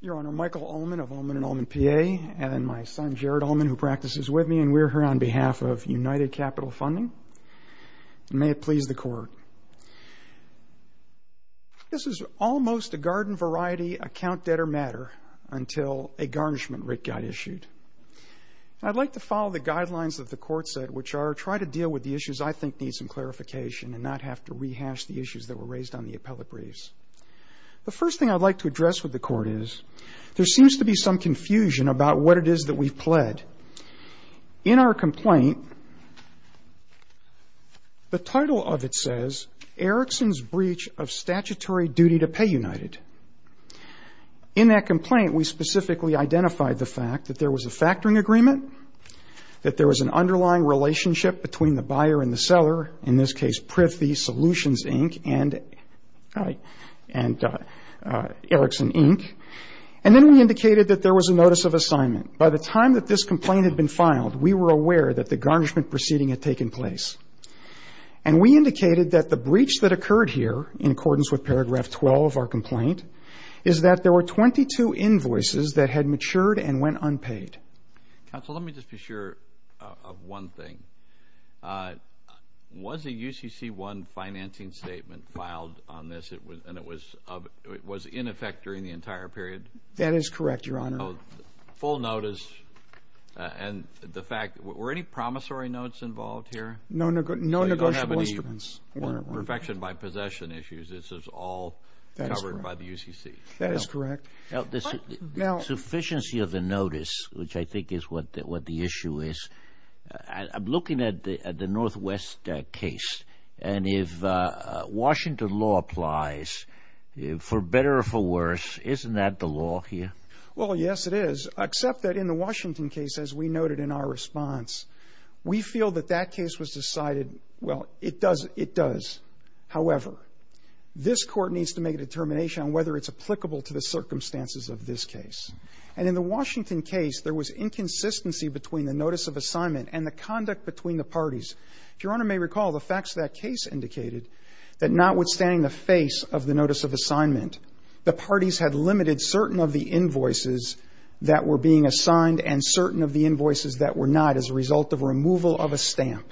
Your Honor, Michael Ullman of Ullman & Ullman, PA, and my son, Jared Ullman, who practices with me, and we're here on behalf of United Capital Funding. May it please the Court. This is almost a garden-variety, account-debtor matter until a garnishment writ got issued. I'd like to follow the guidelines of the court set, which are try to deal with the issues I think need some clarification and not have to rehash the issues that were raised on the appellate briefs. The first thing I'd like to address with the court is, there seems to be some confusion about what it is that we've pled. In our complaint, the title of it says, Ericsson's Breach of Statutory Duty to Pay United. In that complaint, we specifically identified the fact that there was a factoring agreement, that there was an underlying relationship between the buyer and the seller, in this case, Prithee Solutions, Inc. and Ericsson, Inc. And then we indicated that there was a notice of assignment. By the time that this complaint had been filed, we were aware that the garnishment proceeding had taken place. And we indicated that the breach that occurred here, in accordance with paragraph 12 of our complaint, is that there were 22 invoices that had matured and went unpaid. Counsel, let me just be sure of one thing. Was a UCC1 financing statement filed on this, and it was in effect during the entire period? That is correct, Your Honor. Full notice, and the fact, were any promissory notes involved here? No negotiable instruments. Perfection by possession issues, this is all covered by the UCC? That is correct. Now, the sufficiency of the notice, which I think is what the issue is, I'm looking at the Northwest case. And if Washington law applies, for better or for worse, isn't that the law here? Well, yes, it is, except that in the Washington case, as we noted in our response, we feel that that case was decided, well, it does. However, this Court needs to make a determination on whether it's applicable to the circumstances of this case. And in the Washington case, there was inconsistency between the notice of assignment and the conduct between the parties. If Your Honor may recall, the facts of that case indicated that notwithstanding the face of the notice of assignment, the parties had limited certain of the invoices that were being assigned and certain of the invoices that were not as a result of removal of a stamp.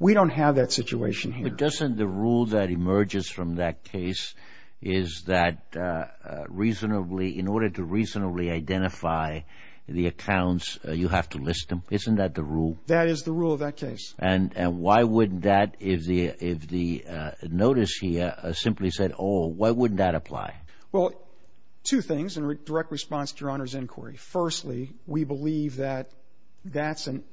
We don't have that situation here. But doesn't the rule that emerges from that case is that in order to reasonably identify the accounts, you have to list them? Isn't that the rule? That is the rule of that case. And why wouldn't that, if the notice here simply said, oh, why wouldn't that apply? Well, two things in direct response to Your Honor's inquiry. Firstly, we believe that that's an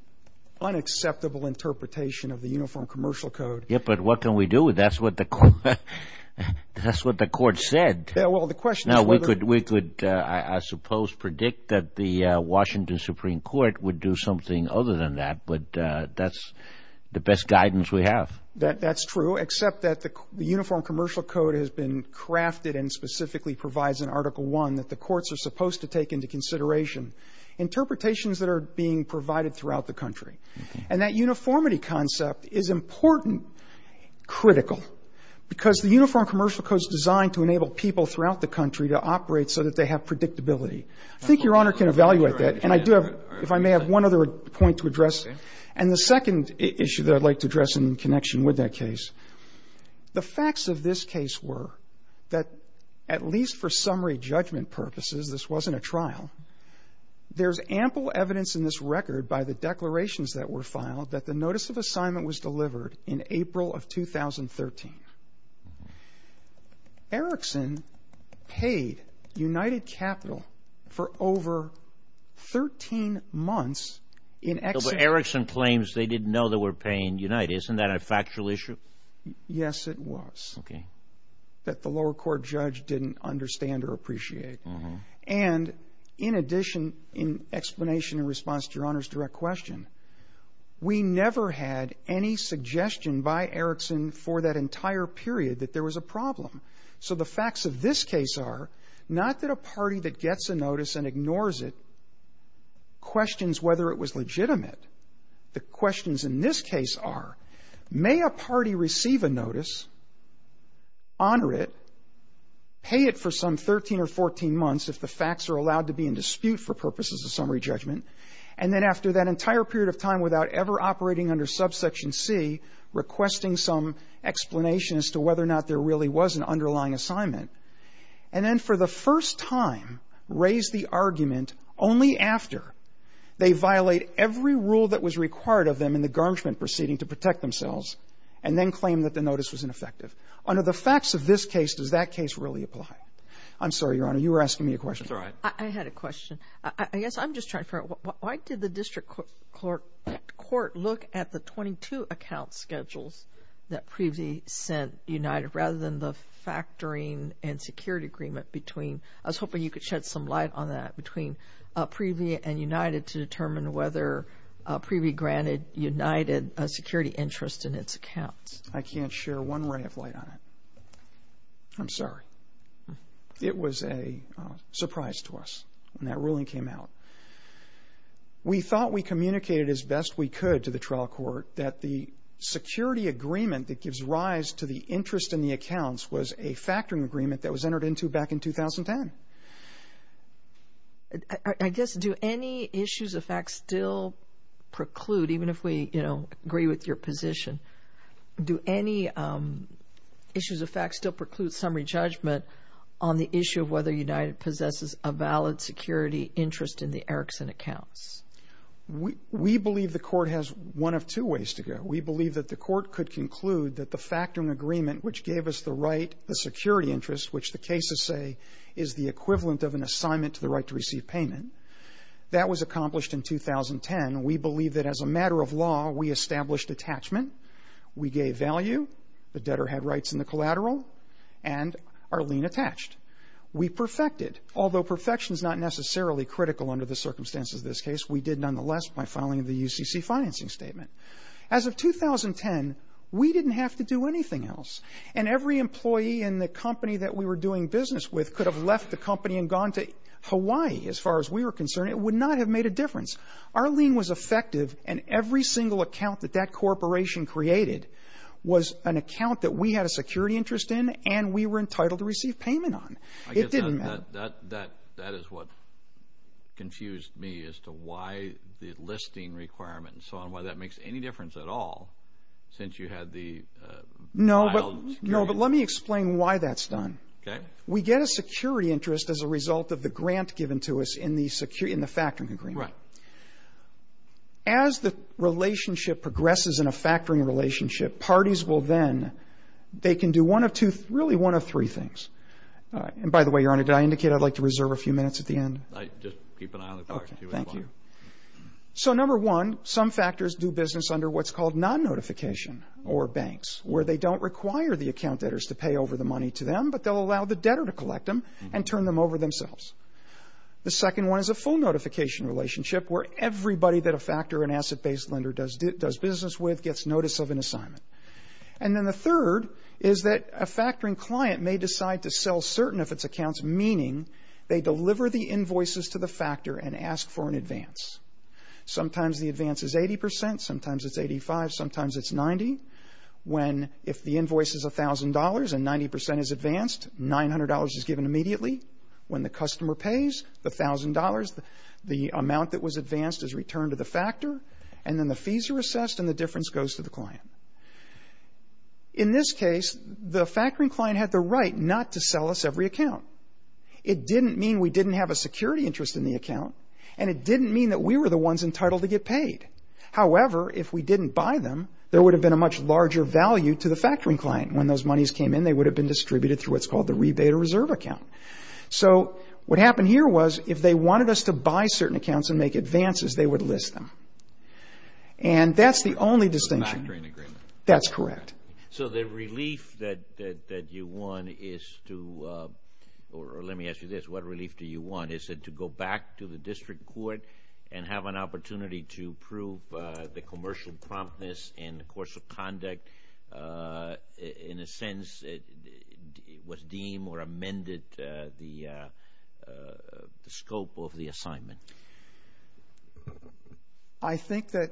unacceptable interpretation of the Uniform Commercial Code. Yes, but what can we do? That's what the Court said. Well, the question is whether we could, I suppose, predict that the Washington Supreme Court would do something other than that. But that's the best guidance we have. That's true, except that the Uniform Commercial Code has been crafted and specifically provides in Article I that the courts are supposed to take into consideration interpretations that are being provided throughout the country. And that uniformity concept is important, critical, because the Uniform Commercial Code is designed to enable people throughout the country to operate so that they have predictability. I think Your Honor can evaluate that. And I do have, if I may, have one other point to address. And the second issue that I'd like to address in connection with that case, the facts of this case were that, at least for summary judgment purposes, this wasn't a trial. There's ample evidence in this record by the declarations that were filed that the notice of assignment was delivered in April of 2013. Erickson paid United Capital for over 13 months in excess. Erickson claims they didn't know they were paying United. Isn't that a factual issue? Yes, it was. Okay. That the lower court judge didn't understand or appreciate. And in addition, in explanation in response to Your Honor's direct question, we never had any suggestion by Erickson for that entire period that there was a problem. So the facts of this case are not that a party that gets a notice and ignores it questions whether it was legitimate. The questions in this case are, may a party receive a notice, honor it, pay it for some 13 or 14 months if the facts are allowed to be in dispute for purposes of summary judgment, and then after that entire period of time without ever operating under subsection C, requesting some explanation as to whether or not there really was an underlying assignment, and then for the first time, raise the argument only after they violate every rule that was required of them in the garnishment proceeding to protect themselves, and then claim that the notice was ineffective. Under the facts of this case, does that case really apply? I'm sorry, Your Honor. You were asking me a question. That's all right. I had a question. I guess I'm just trying to figure out, why did the district court look at the 22 account schedules that PREVY sent United rather than the factoring and security agreement between, I was hoping you could shed some light on that, between PREVY and United to determine whether PREVY granted United a security interest in its accounts. I can't share one ray of light on it. I'm sorry. It was a surprise to us when that ruling came out. We thought we communicated as best we could to the trial court that the security agreement that gives rise to the interest in the accounts was a factoring agreement that was entered into back in 2010. I guess, do any issues of fact still preclude, even if we, you know, agree with your position, do any issues of fact still preclude summary judgment on the issue of whether United possesses a valid security interest in the Erickson accounts? We believe the court has one of two ways to go. We believe that the court could conclude that the factoring agreement which gave us the right, the security interest, which the cases say is the equivalent of an assignment to the right to receive payment, that was accomplished in 2010. We believe that as a matter of law, we established attachment. We gave value. The debtor had rights in the collateral. And Arlene attached. We perfected. Although perfection is not necessarily critical under the circumstances of this case, we did nonetheless by filing the UCC financing statement. As of 2010, we didn't have to do anything else. And every employee in the company that we were doing business with could have left the company and gone to Hawaii, as far as we were concerned. It would not have made a difference. Arlene was effective, and every single account that that corporation created was an account that we had a security interest in and we were entitled to receive payment on. It didn't matter. I guess that is what confused me as to why the listing requirement and so on, why that makes any difference at all, since you had the filed security interest. No, but let me explain why that's done. Okay. We get a security interest as a result of the grant given to us in the factoring agreement. Right. As the relationship progresses in a factoring relationship, parties will then, they can do one of two, really one of three things. And by the way, Your Honor, did I indicate I'd like to reserve a few minutes at the end? Just keep an eye on the clock. Okay. Thank you. So number one, some factors do business under what's called non-notification or banks, where they don't require the account debtors to pay over the money to them, but they'll allow the debtor to collect them and turn them over themselves. The second one is a full notification relationship, where everybody that a factor or an asset-based lender does business with gets notice of an assignment. And then the third is that a factoring client may decide to sell certain of its accounts, meaning they deliver the invoices to the factor and ask for an advance. Sometimes the advance is 80 percent, sometimes it's 85, sometimes it's 90. When, if the invoice is $1,000 and 90 percent is advanced, $900 is given immediately. When the customer pays, the $1,000, the amount that was advanced is returned to the factor, and then the fees are assessed and the difference goes to the client. In this case, the factoring client had the right not to sell us every account. It didn't mean we didn't have a security interest in the account, and it didn't mean that we were the ones entitled to get paid. However, if we didn't buy them, there would have been a much larger value to the factoring client. When those monies came in, they would have been distributed through what's called the rebate or reserve account. So what happened here was, if they wanted us to buy certain accounts and make advances, they would list them. And that's the only distinction. The factoring agreement. That's correct. So the relief that you want is to, or let me ask you this, what relief do you want? Is it to go back to the district court and have an opportunity to prove the commercial promptness in the course of conduct? In a sense, was deemed or amended the scope of the assignment? I think that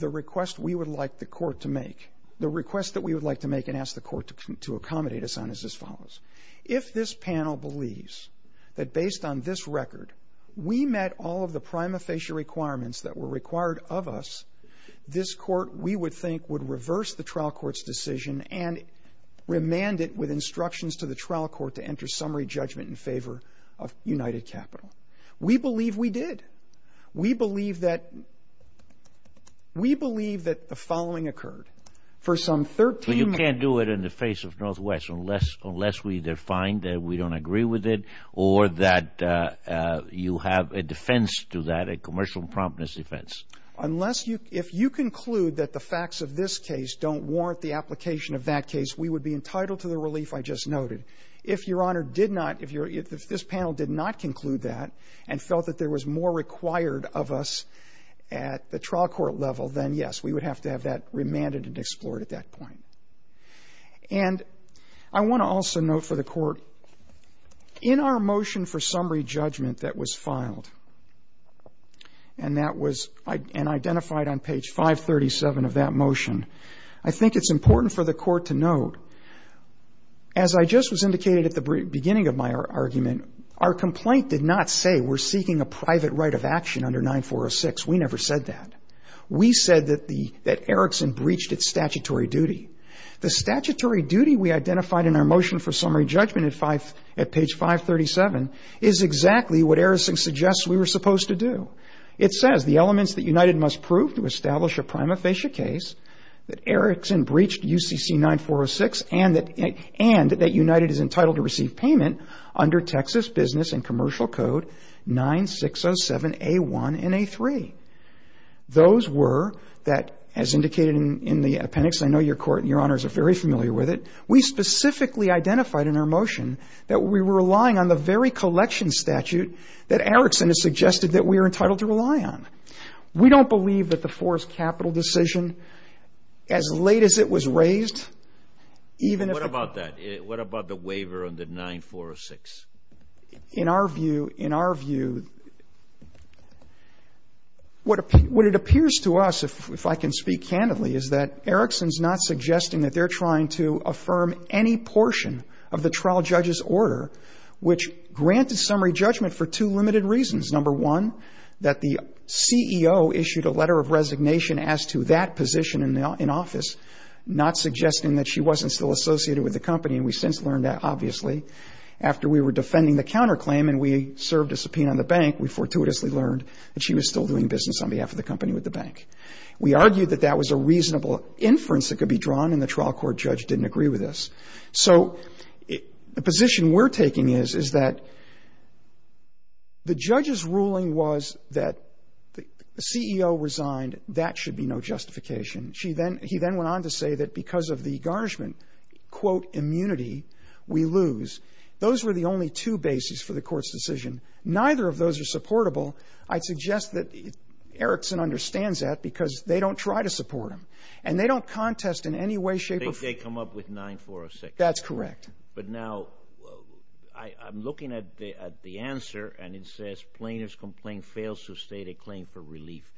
the request we would like the court to make, the request that we would like to make and ask the court to accommodate us on is as follows. If this panel believes that based on this record, we met all of the prima facie requirements that were required of us, this court, we would think, would reverse the trial court's decision and remand it with instructions to the trial court to enter summary judgment in favor of United Capital. We believe we did. We believe that the following occurred. Well, you can't do it in the face of Northwest unless we either find that we don't agree with it or that you have a defense to that, a commercial promptness defense. Unless you, if you conclude that the facts of this case don't warrant the application of that case, we would be entitled to the relief I just noted. If Your Honor did not, if this panel did not conclude that and felt that there was more required of us at the trial court level, then yes, we would have to have that remanded and explored at that point. And I want to also note for the court, in our motion for summary judgment that was filed and that was identified on page 537 of that motion, I think it's important for the court to note, as I just was indicated at the beginning of my argument, our complaint did not say we're seeking a private right of action under 9406. We never said that. We said that Erickson breached its statutory duty. The statutory duty we identified in our motion for summary judgment at page 537 is exactly what Erickson suggests we were supposed to do. It says the elements that United must prove to establish a prima facie case that Erickson breached UCC 9406 and that United is entitled to receive payment under Texas Business and Commercial Code 9607A1 and A3. Those were that, as indicated in the appendix, I know your court and your honors are very familiar with it, we specifically identified in our motion that we were relying on the very collection statute that Erickson has suggested that we are entitled to rely on. We don't believe that the forced capital decision, as late as it was raised, even if the ---- What about that? What about the waiver under 9406? In our view, in our view, what it appears to us, if I can speak candidly, is that Erickson's not suggesting that they're trying to affirm any portion of the trial judge's order, which granted summary judgment for two limited reasons. Number one, that the CEO issued a letter of resignation as to that position in office, not suggesting that she wasn't still associated with the company. And we since learned that, obviously, after we were defending the counterclaim and we served a subpoena on the bank, we fortuitously learned that she was still doing business on behalf of the company with the bank. We argued that that was a reasonable inference that could be drawn, and the trial court judge didn't agree with us. So the position we're taking is, is that the judge's ruling was that the CEO resigned, that should be no justification. She then, he then went on to say that because of the garnishment, quote, immunity, we lose. Those were the only two bases for the court's decision. Neither of those are supportable. I'd suggest that Erickson understands that because they don't try to support him. And they don't contest in any way, shape or form. They come up with 9406. That's correct. But now I'm looking at the answer, and it says, plaintiff's complaint fails to state a claim for relief.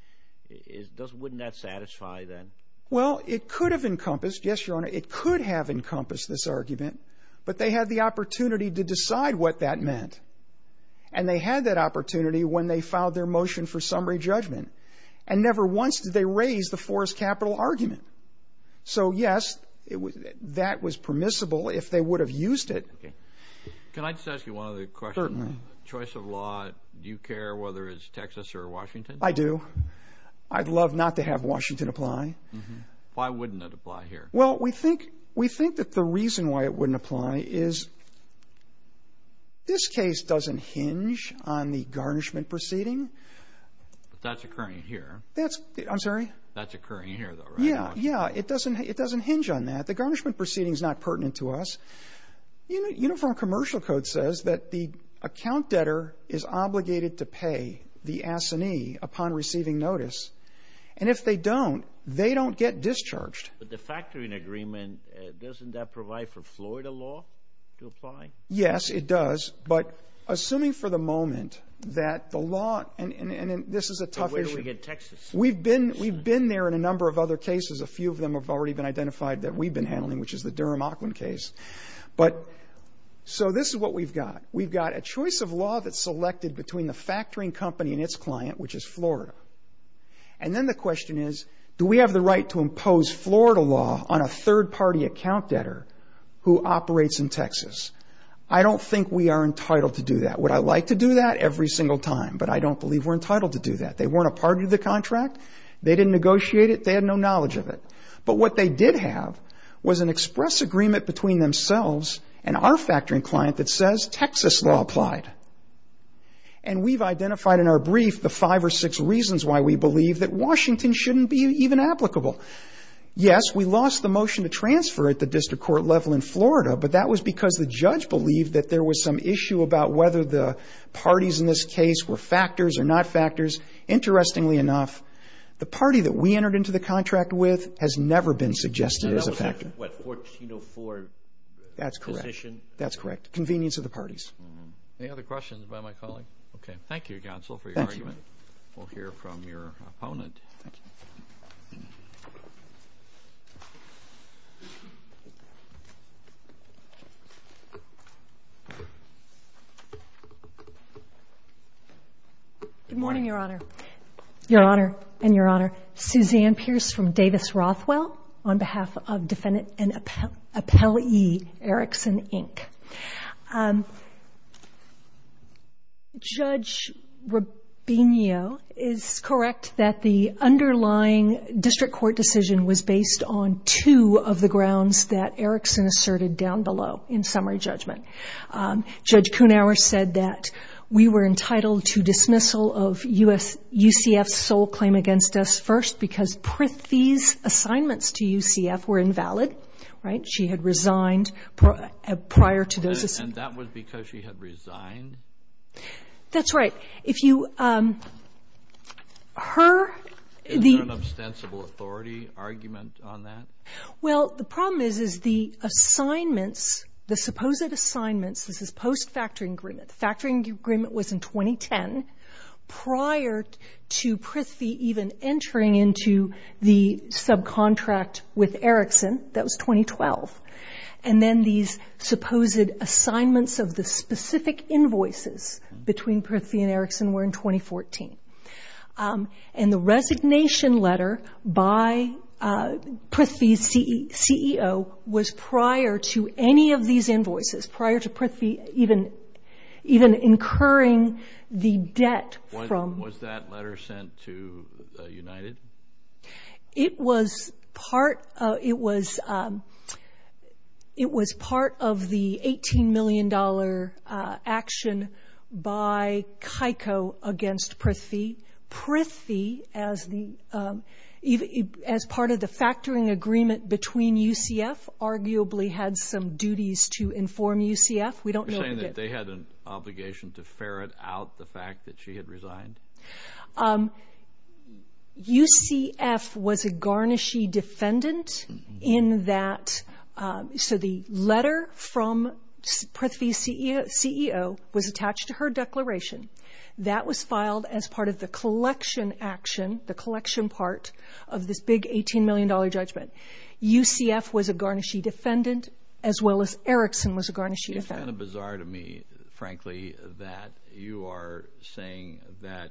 Wouldn't that satisfy then? Well, it could have encompassed, yes, Your Honor, it could have encompassed this argument, but they had the opportunity to decide what that meant. And they had that opportunity when they filed their motion for summary judgment. And never once did they raise the Forrest Capital argument. So, yes, that was permissible if they would have used it. Can I just ask you one other question? Certainly. In your choice of law, do you care whether it's Texas or Washington? I do. I'd love not to have Washington apply. Why wouldn't it apply here? Well, we think that the reason why it wouldn't apply is this case doesn't hinge on the garnishment proceeding. But that's occurring here. I'm sorry? That's occurring here, though, right? Yeah, it doesn't hinge on that. The garnishment proceeding is not pertinent to us. Uniform Commercial Code says that the account debtor is obligated to pay the assignee upon receiving notice. And if they don't, they don't get discharged. But the factoring agreement, doesn't that provide for Florida law to apply? Yes, it does. But assuming for the moment that the law, and this is a tough issue. But where do we get Texas? We've been there in a number of other cases. A few of them have already been identified that we've been handling, which is the Durham-Auckland case. But so this is what we've got. We've got a choice of law that's selected between the factoring company and its client, which is Florida. And then the question is, do we have the right to impose Florida law on a third-party account debtor who operates in Texas? I don't think we are entitled to do that. Would I like to do that? Every single time. But I don't believe we're entitled to do that. They weren't a part of the contract. They didn't negotiate it. They had no knowledge of it. But what they did have was an express agreement between themselves and our factoring client that says Texas law applied. And we've identified in our brief the five or six reasons why we believe that Washington shouldn't be even applicable. Yes, we lost the motion to transfer at the district court level in Florida, but that was because the judge believed that there was some issue about whether the parties in this case were factors or not factors. Interestingly enough, the party that we entered into the contract with has never been suggested as a factor. What, 1404 position? That's correct. That's correct. Convenience of the parties. Any other questions by my colleague? Okay. Thank you, counsel, for your argument. We'll hear from your opponent. Thank you. Good morning, Your Honor. Your Honor and Your Honor, Suzanne Pierce from Davis Rothwell on behalf of defendant and appellee Erickson, Inc. Judge Rabinio is correct that the underlying district court decision was based on two of the grounds that Erickson asserted down below in summary judgment. Judge Kunauer said that we were entitled to dismissal of UCF's sole claim against us first because Prithee's assignments to UCF were invalid, right? And that was because she had resigned? That's right. If you heard the — Is there an ostensible authority argument on that? Well, the problem is, is the assignments, the supposed assignments, this is post-factoring agreement. The factoring agreement was in 2010 prior to Prithee even entering into the subcontract with Erickson. That was 2012. And then these supposed assignments of the specific invoices between Prithee and Erickson were in 2014. And the resignation letter by Prithee's CEO was prior to any of these invoices, prior to Prithee even incurring the debt from — Was that letter sent to United? It was part of the $18 million action by Keiko against Prithee. Prithee, as part of the factoring agreement between UCF, arguably had some duties to inform UCF. We don't know — You're saying that they had an obligation to ferret out the fact that she had resigned? UCF was a garnishy defendant in that — So the letter from Prithee's CEO was attached to her declaration. That was filed as part of the collection action, the collection part of this big $18 million judgment. UCF was a garnishy defendant, as well as Erickson was a garnishy defendant. It's kind of bizarre to me, frankly, that you are saying that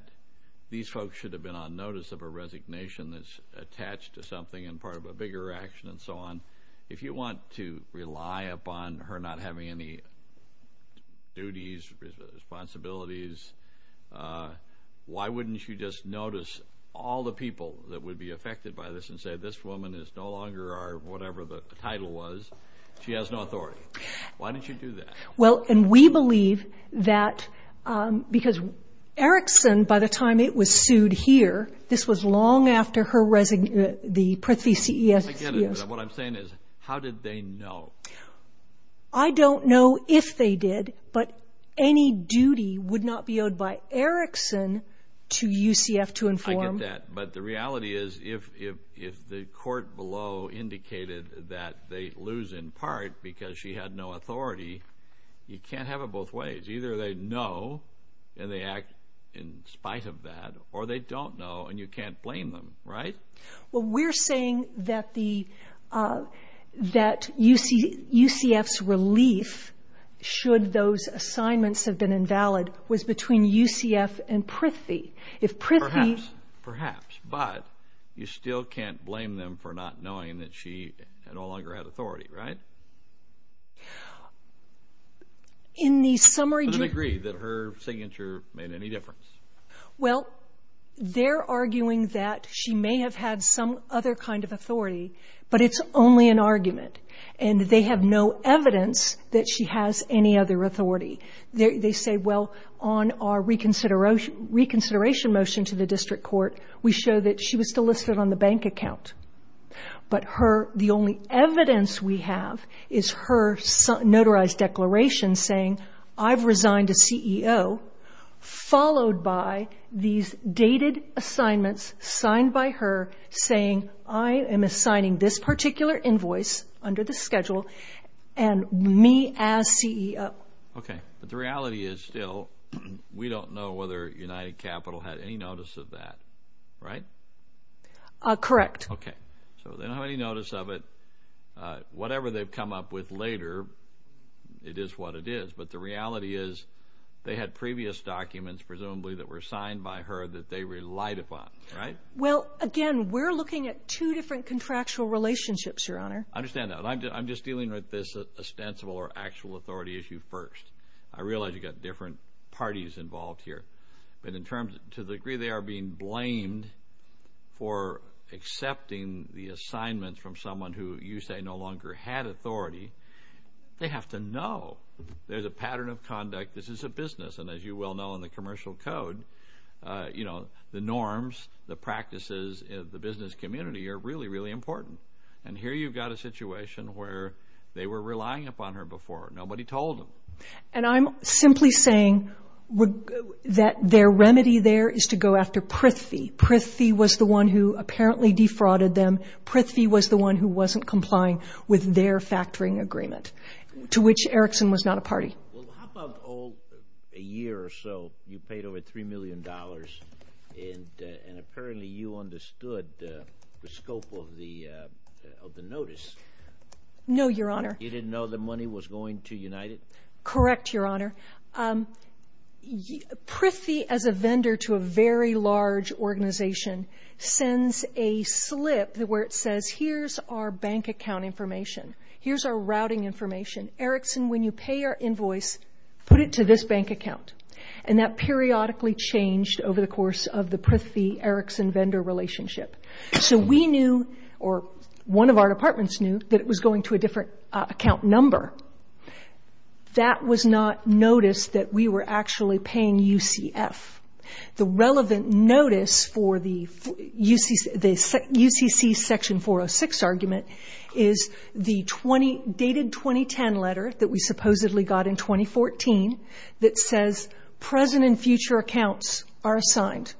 these folks should have been on notice of a resignation that's attached to something and part of a bigger action and so on. If you want to rely upon her not having any duties, responsibilities, why wouldn't you just notice all the people that would be affected by this and say, this woman is no longer our whatever the title was. She has no authority. Why didn't you do that? Well, and we believe that because Erickson, by the time it was sued here, this was long after the Prithee CEO — I get it, but what I'm saying is, how did they know? I don't know if they did, but any duty would not be owed by Erickson to UCF to inform — if the court below indicated that they lose in part because she had no authority, you can't have it both ways. Either they know and they act in spite of that, or they don't know and you can't blame them, right? Well, we're saying that UCF's relief, should those assignments have been invalid, was between UCF and Prithee. Perhaps, but you still can't blame them for not knowing that she no longer had authority, right? In the summary — To the degree that her signature made any difference. Well, they're arguing that she may have had some other kind of authority, but it's only an argument, and they have no evidence that she has any other authority. They say, well, on our reconsideration motion to the district court, we show that she was still listed on the bank account. But the only evidence we have is her notarized declaration saying, I've resigned as CEO, followed by these dated assignments signed by her saying, I am assigning this particular invoice under the schedule and me as CEO. Okay, but the reality is still, we don't know whether United Capital had any notice of that, right? Correct. Okay, so they don't have any notice of it. Whatever they've come up with later, it is what it is. But the reality is, they had previous documents, presumably, that were signed by her that they relied upon, right? Well, again, we're looking at two different contractual relationships, Your Honor. I understand that. I'm just dealing with this ostensible or actual authority issue first. I realize you've got different parties involved here. But to the degree they are being blamed for accepting the assignments from someone who you say no longer had authority, they have to know there's a pattern of conduct. This is a business, and as you well know in the commercial code, the norms, the practices, the business community are really, really important. And here you've got a situation where they were relying upon her before. Nobody told them. And I'm simply saying that their remedy there is to go after Prithvi. Prithvi was the one who apparently defrauded them. Prithvi was the one who wasn't complying with their factoring agreement, to which Erickson was not a party. Well, how about a year or so, you paid over $3 million, and apparently you understood the scope of the notice. No, Your Honor. You didn't know the money was going to United? Correct, Your Honor. Prithvi, as a vendor to a very large organization, sends a slip where it says, here's our bank account information, here's our routing information. Erickson, when you pay your invoice, put it to this bank account. And that periodically changed over the course of the Prithvi-Erickson vendor relationship. So we knew, or one of our departments knew, that it was going to a different account number. That was not noticed that we were actually paying UCF. The relevant notice for the UCC Section 406 argument is the dated 2010 letter that we supposedly got in 2014 that says, present and future accounts are assigned.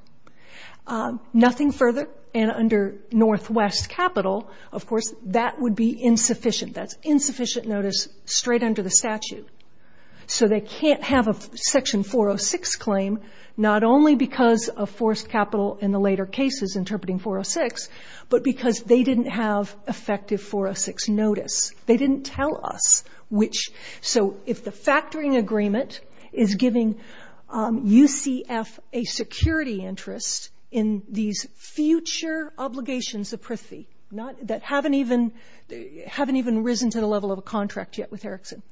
Nothing further, and under Northwest Capital, of course, that would be insufficient. That's insufficient notice straight under the statute. So they can't have a Section 406 claim, not only because of forced capital in the later cases interpreting 406, but because they didn't have effective 406 notice. They didn't tell us which. So if the factoring agreement is giving UCF a security interest in these future obligations of Prithvi that haven't even risen to the level of a contract yet with Erickson,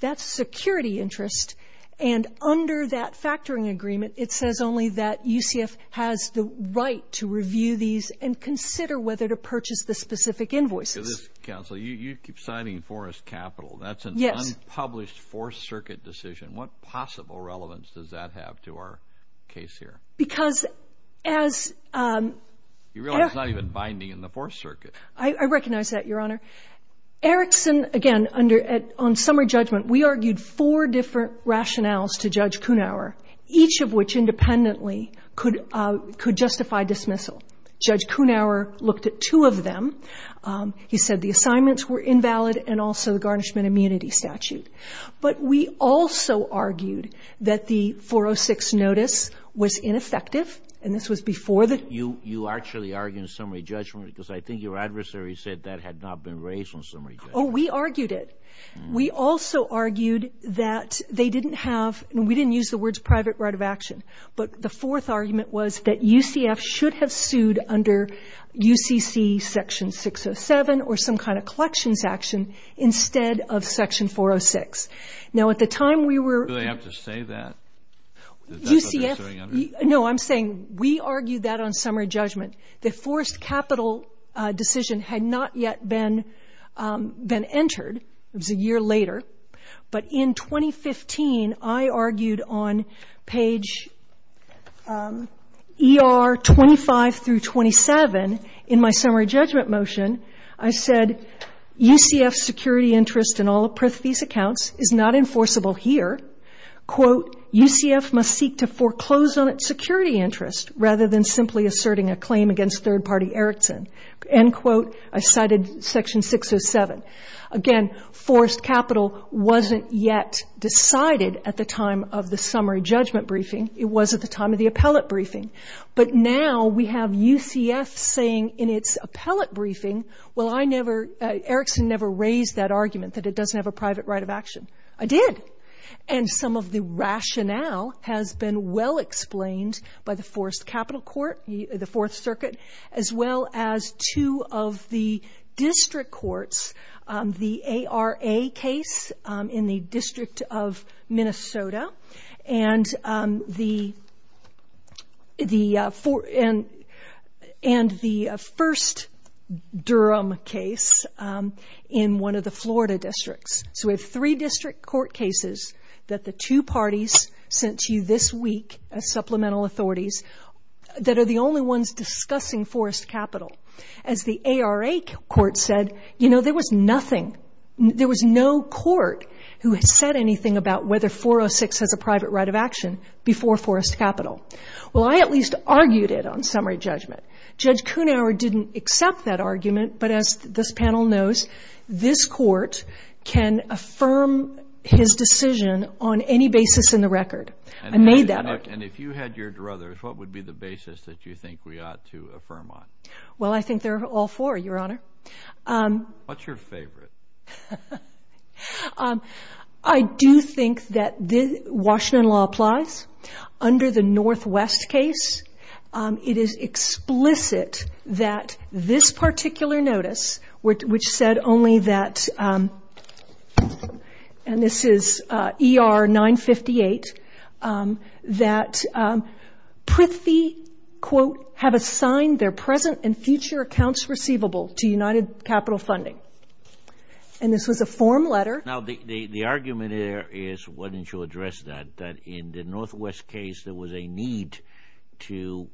that's security interest. And under that factoring agreement, it says only that UCF has the right to review these and consider whether to purchase the specific invoices. Counsel, you keep citing forced capital. That's an unpublished Fourth Circuit decision. What possible relevance does that have to our case here? You realize it's not even binding in the Fourth Circuit. I recognize that, Your Honor. Erickson, again, on summary judgment, we argued four different rationales to Judge Kunauer, each of which independently could justify dismissal. Judge Kunauer looked at two of them. He said the assignments were invalid and also the garnishment immunity statute. But we also argued that the 406 notice was ineffective, and this was before the You actually argue in summary judgment because I think your adversary said that had not been raised on summary judgment. Oh, we argued it. We also argued that they didn't have, and we didn't use the words private right of action, but the fourth argument was that UCF should have sued under UCC Section 607 or some kind of collections action instead of Section 406. Now, at the time we were Do they have to say that? UCF Is that what they're suing under? No, I'm saying we argued that on summary judgment. The forced capital decision had not yet been entered. It was a year later. But in 2015, I argued on page ER 25 through 27 in my summary judgment motion. I said UCF's security interest in all of these accounts is not enforceable here. Quote, UCF must seek to foreclose on its security interest rather than simply asserting a claim against third-party Erickson. End quote. I cited Section 607. Again, forced capital wasn't yet decided at the time of the summary judgment briefing. It was at the time of the appellate briefing. But now we have UCF saying in its appellate briefing, well, I never Erickson never raised that argument that it doesn't have a private right of action. I did. And some of the rationale has been well explained by the forced capital court, the Fourth Circuit, as well as two of the district courts, the ARA case in the District of Minnesota, and the first Durham case in one of the Florida districts. So we have three district court cases that the two parties sent to you this week as supplemental authorities that are the only ones discussing forced capital. As the ARA court said, you know, there was nothing. There was no court who had said anything about whether 406 has a private right of action before forced capital. Well, I at least argued it on summary judgment. Judge Kuhnhauer didn't accept that argument, but as this panel knows, this court can affirm his decision on any basis in the record. I made that argument. And if you had your druthers, what would be the basis that you think we ought to affirm on? Well, I think there are all four, Your Honor. What's your favorite? I do think that Washington law applies. Under the Northwest case, it is explicit that this particular notice, which said only that, and this is ER 958, that Prithee, quote, have assigned their present and future accounts receivable to United Capital Funding. And this was a form letter. Now, the argument here is why didn't you address that, that in the Northwest case there was a need to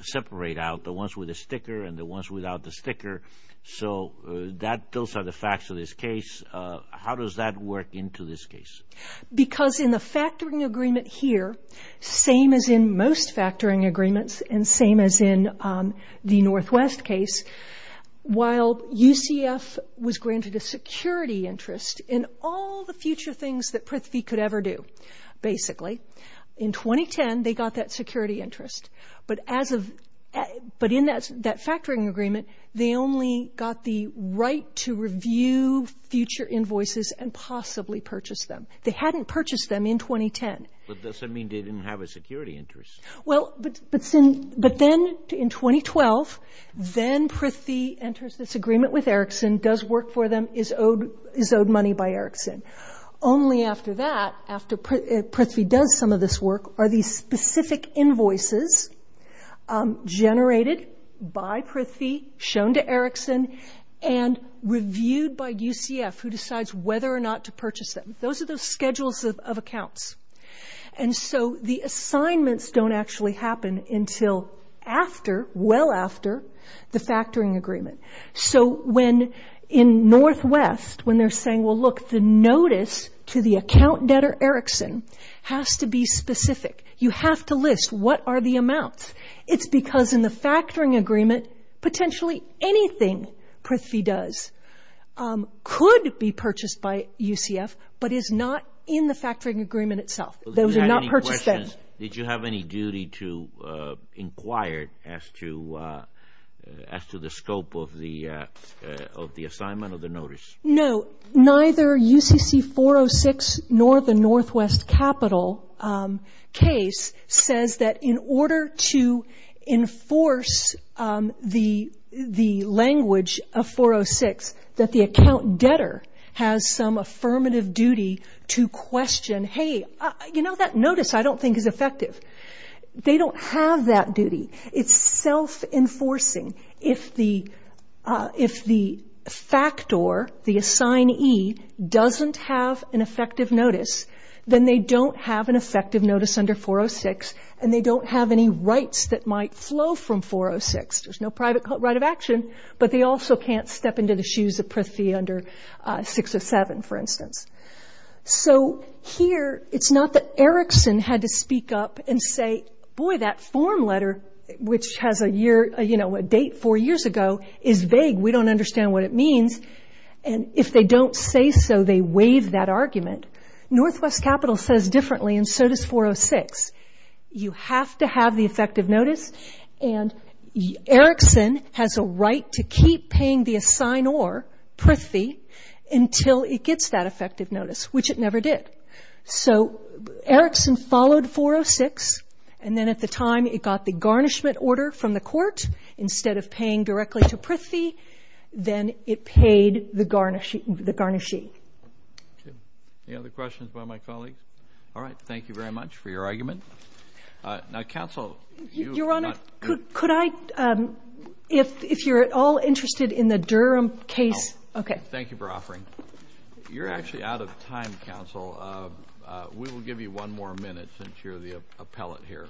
separate out the ones with the sticker and the ones without the sticker. So those are the facts of this case. How does that work into this case? Because in the factoring agreement here, same as in most factoring agreements and same as in the Northwest case, while UCF was granted a security interest in all the future things that Prithee could ever do, basically, in 2010 they got that security interest. But as of — but in that factoring agreement, they only got the right to review future invoices and possibly purchase them. They hadn't purchased them in 2010. But does that mean they didn't have a security interest? Well, but then in 2012, then Prithee enters this agreement with Erickson, does work for them, is owed money by Erickson. Only after that, after Prithee does some of this work, are these specific invoices generated by Prithee, shown to Erickson, and reviewed by UCF, who decides whether or not to purchase them. Those are the schedules of accounts. And so the assignments don't actually happen until after, well after, the factoring agreement. So when in Northwest, when they're saying, well, look, the notice to the account debtor Erickson has to be specific. You have to list what are the amounts. It's because in the factoring agreement, potentially anything Prithee does could be purchased by UCF, but is not in the factoring agreement itself. Those are not purchased then. Did you have any duty to inquire as to the scope of the assignment of the notice? No. Neither UCC 406, nor the Northwest capital case, says that in order to enforce the language of 406, that the account debtor has some affirmative duty to question, hey, you know, that notice I don't think is effective. They don't have that duty. It's self-enforcing. If the factor, the assignee, doesn't have an effective notice, then they don't have an effective notice under 406, and they don't have any rights that might flow from 406. There's no private right of action, but they also can't step into the shoes of Prithee under 607, for instance. So here it's not that Erickson had to speak up and say, boy, that form letter, which has a date four years ago, is vague. We don't understand what it means. And if they don't say so, they waive that argument. Northwest capital says differently, and so does 406. You have to have the effective notice, and Erickson has a right to keep paying the assignor, Prithee, until it gets that effective notice, which it never did. So Erickson followed 406, and then at the time it got the garnishment order from the court. Instead of paying directly to Prithee, then it paid the garnishee. Okay. Any other questions by my colleagues? All right. Thank you very much for your argument. Now, counsel, you have not ---- Your Honor, could I, if you're at all interested in the Durham case ---- No. Okay. Thank you for offering. You're actually out of time, counsel. We will give you one more minute since you're the appellate here.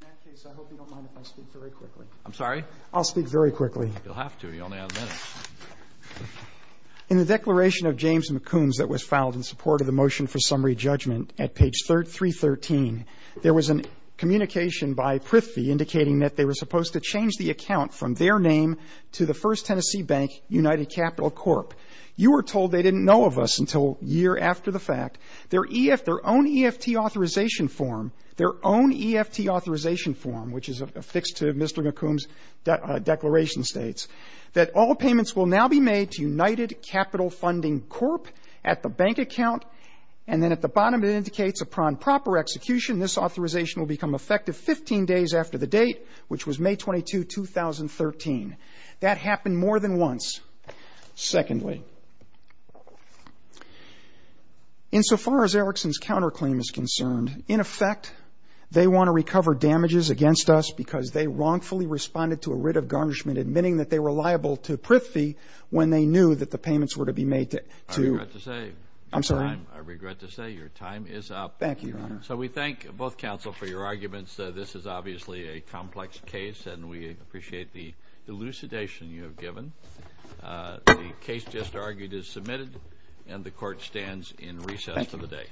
In that case, I hope you don't mind if I speak very quickly. I'm sorry? I'll speak very quickly. You'll have to. You only have a minute. In the declaration of James McCombs that was filed in support of the motion for summary judgment at page 313, there was a communication by Prithee indicating that they were United Capital Corp. You were told they didn't know of us until a year after the fact. Their own EFT authorization form, their own EFT authorization form, which is affixed to Mr. McCombs' declaration, states that all payments will now be made to United Capital Funding Corp. at the bank account, and then at the bottom it indicates upon proper execution this authorization will become effective 15 days after the date, which was May 22, 2013. That happened more than once. Secondly, insofar as Erickson's counterclaim is concerned, in effect they want to recover damages against us because they wrongfully responded to a writ of garnishment admitting that they were liable to Prithee when they knew that the payments were to be made to... I regret to say... I'm sorry? I regret to say your time is up. Thank you, Your Honor. So we thank both counsel for your arguments. This is obviously a complex case and we appreciate the elucidation you have given. The case just argued is submitted and the court stands in recess for the day.